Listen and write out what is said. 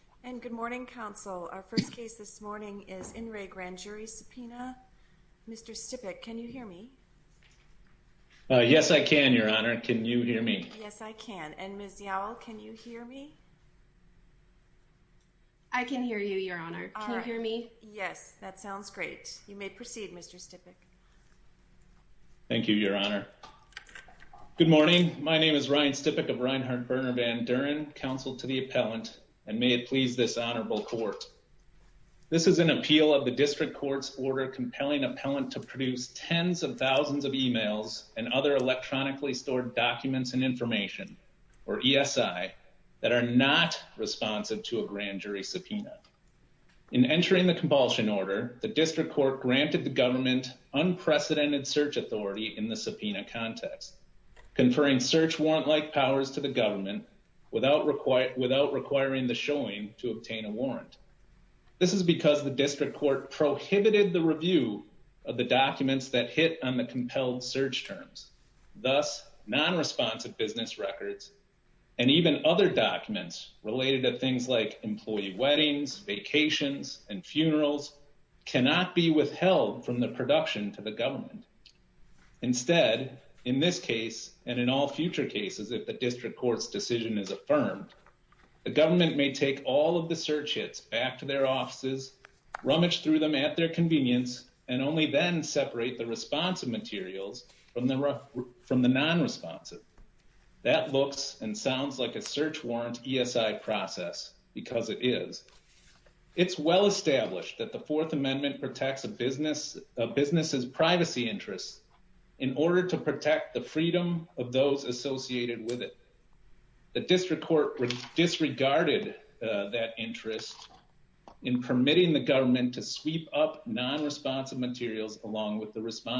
And good morning, Counsel. Our first case this morning is In Re Grand Jury Subpoena. Mr. Stipik, can you hear me? Yes, I can, Your Honor. Can you hear me? Yes, I can. And Ms. Yowell, can you hear me? I can hear you, Your Honor. Can you hear me? Yes, that sounds great. You may proceed, Mr. Stipik. Thank you, Your Honor. Good morning. My name is Ryan Stipik of Reinhart-Berner Van Duren, Counsel to the Appellant, and may it please this Honorable Court. This is an appeal of the District Court's order compelling Appellant to produce tens of thousands of emails and other electronically stored documents and information, or ESI, that are not responsive to a grand jury subpoena. In entering the compulsion order, the District Court granted the government unprecedented search authority in the subpoena context, conferring search warrant-like powers to the government without requiring the showing to obtain a warrant. This is because the District Court prohibited the review of the documents that hit on the compelled search terms, thus non-responsive business records, and even other documents related to things like employee weddings, vacations, and funerals, cannot be withheld from the production to the government. Instead, in this case, and in all future cases if the District Court's decision is affirmed, the government may take all of the search hits back to their offices, rummage through them at their convenience, and only then separate the responsive materials from the non-responsive. That looks and sounds like a search warrant ESI process, because it is. It's well established that the Fourth Amendment protects a business's privacy interests in order to protect the freedom of those associated with it. The District Court disregarded that interest in permitting the government to sweep up non-responsive materials along with the responsive.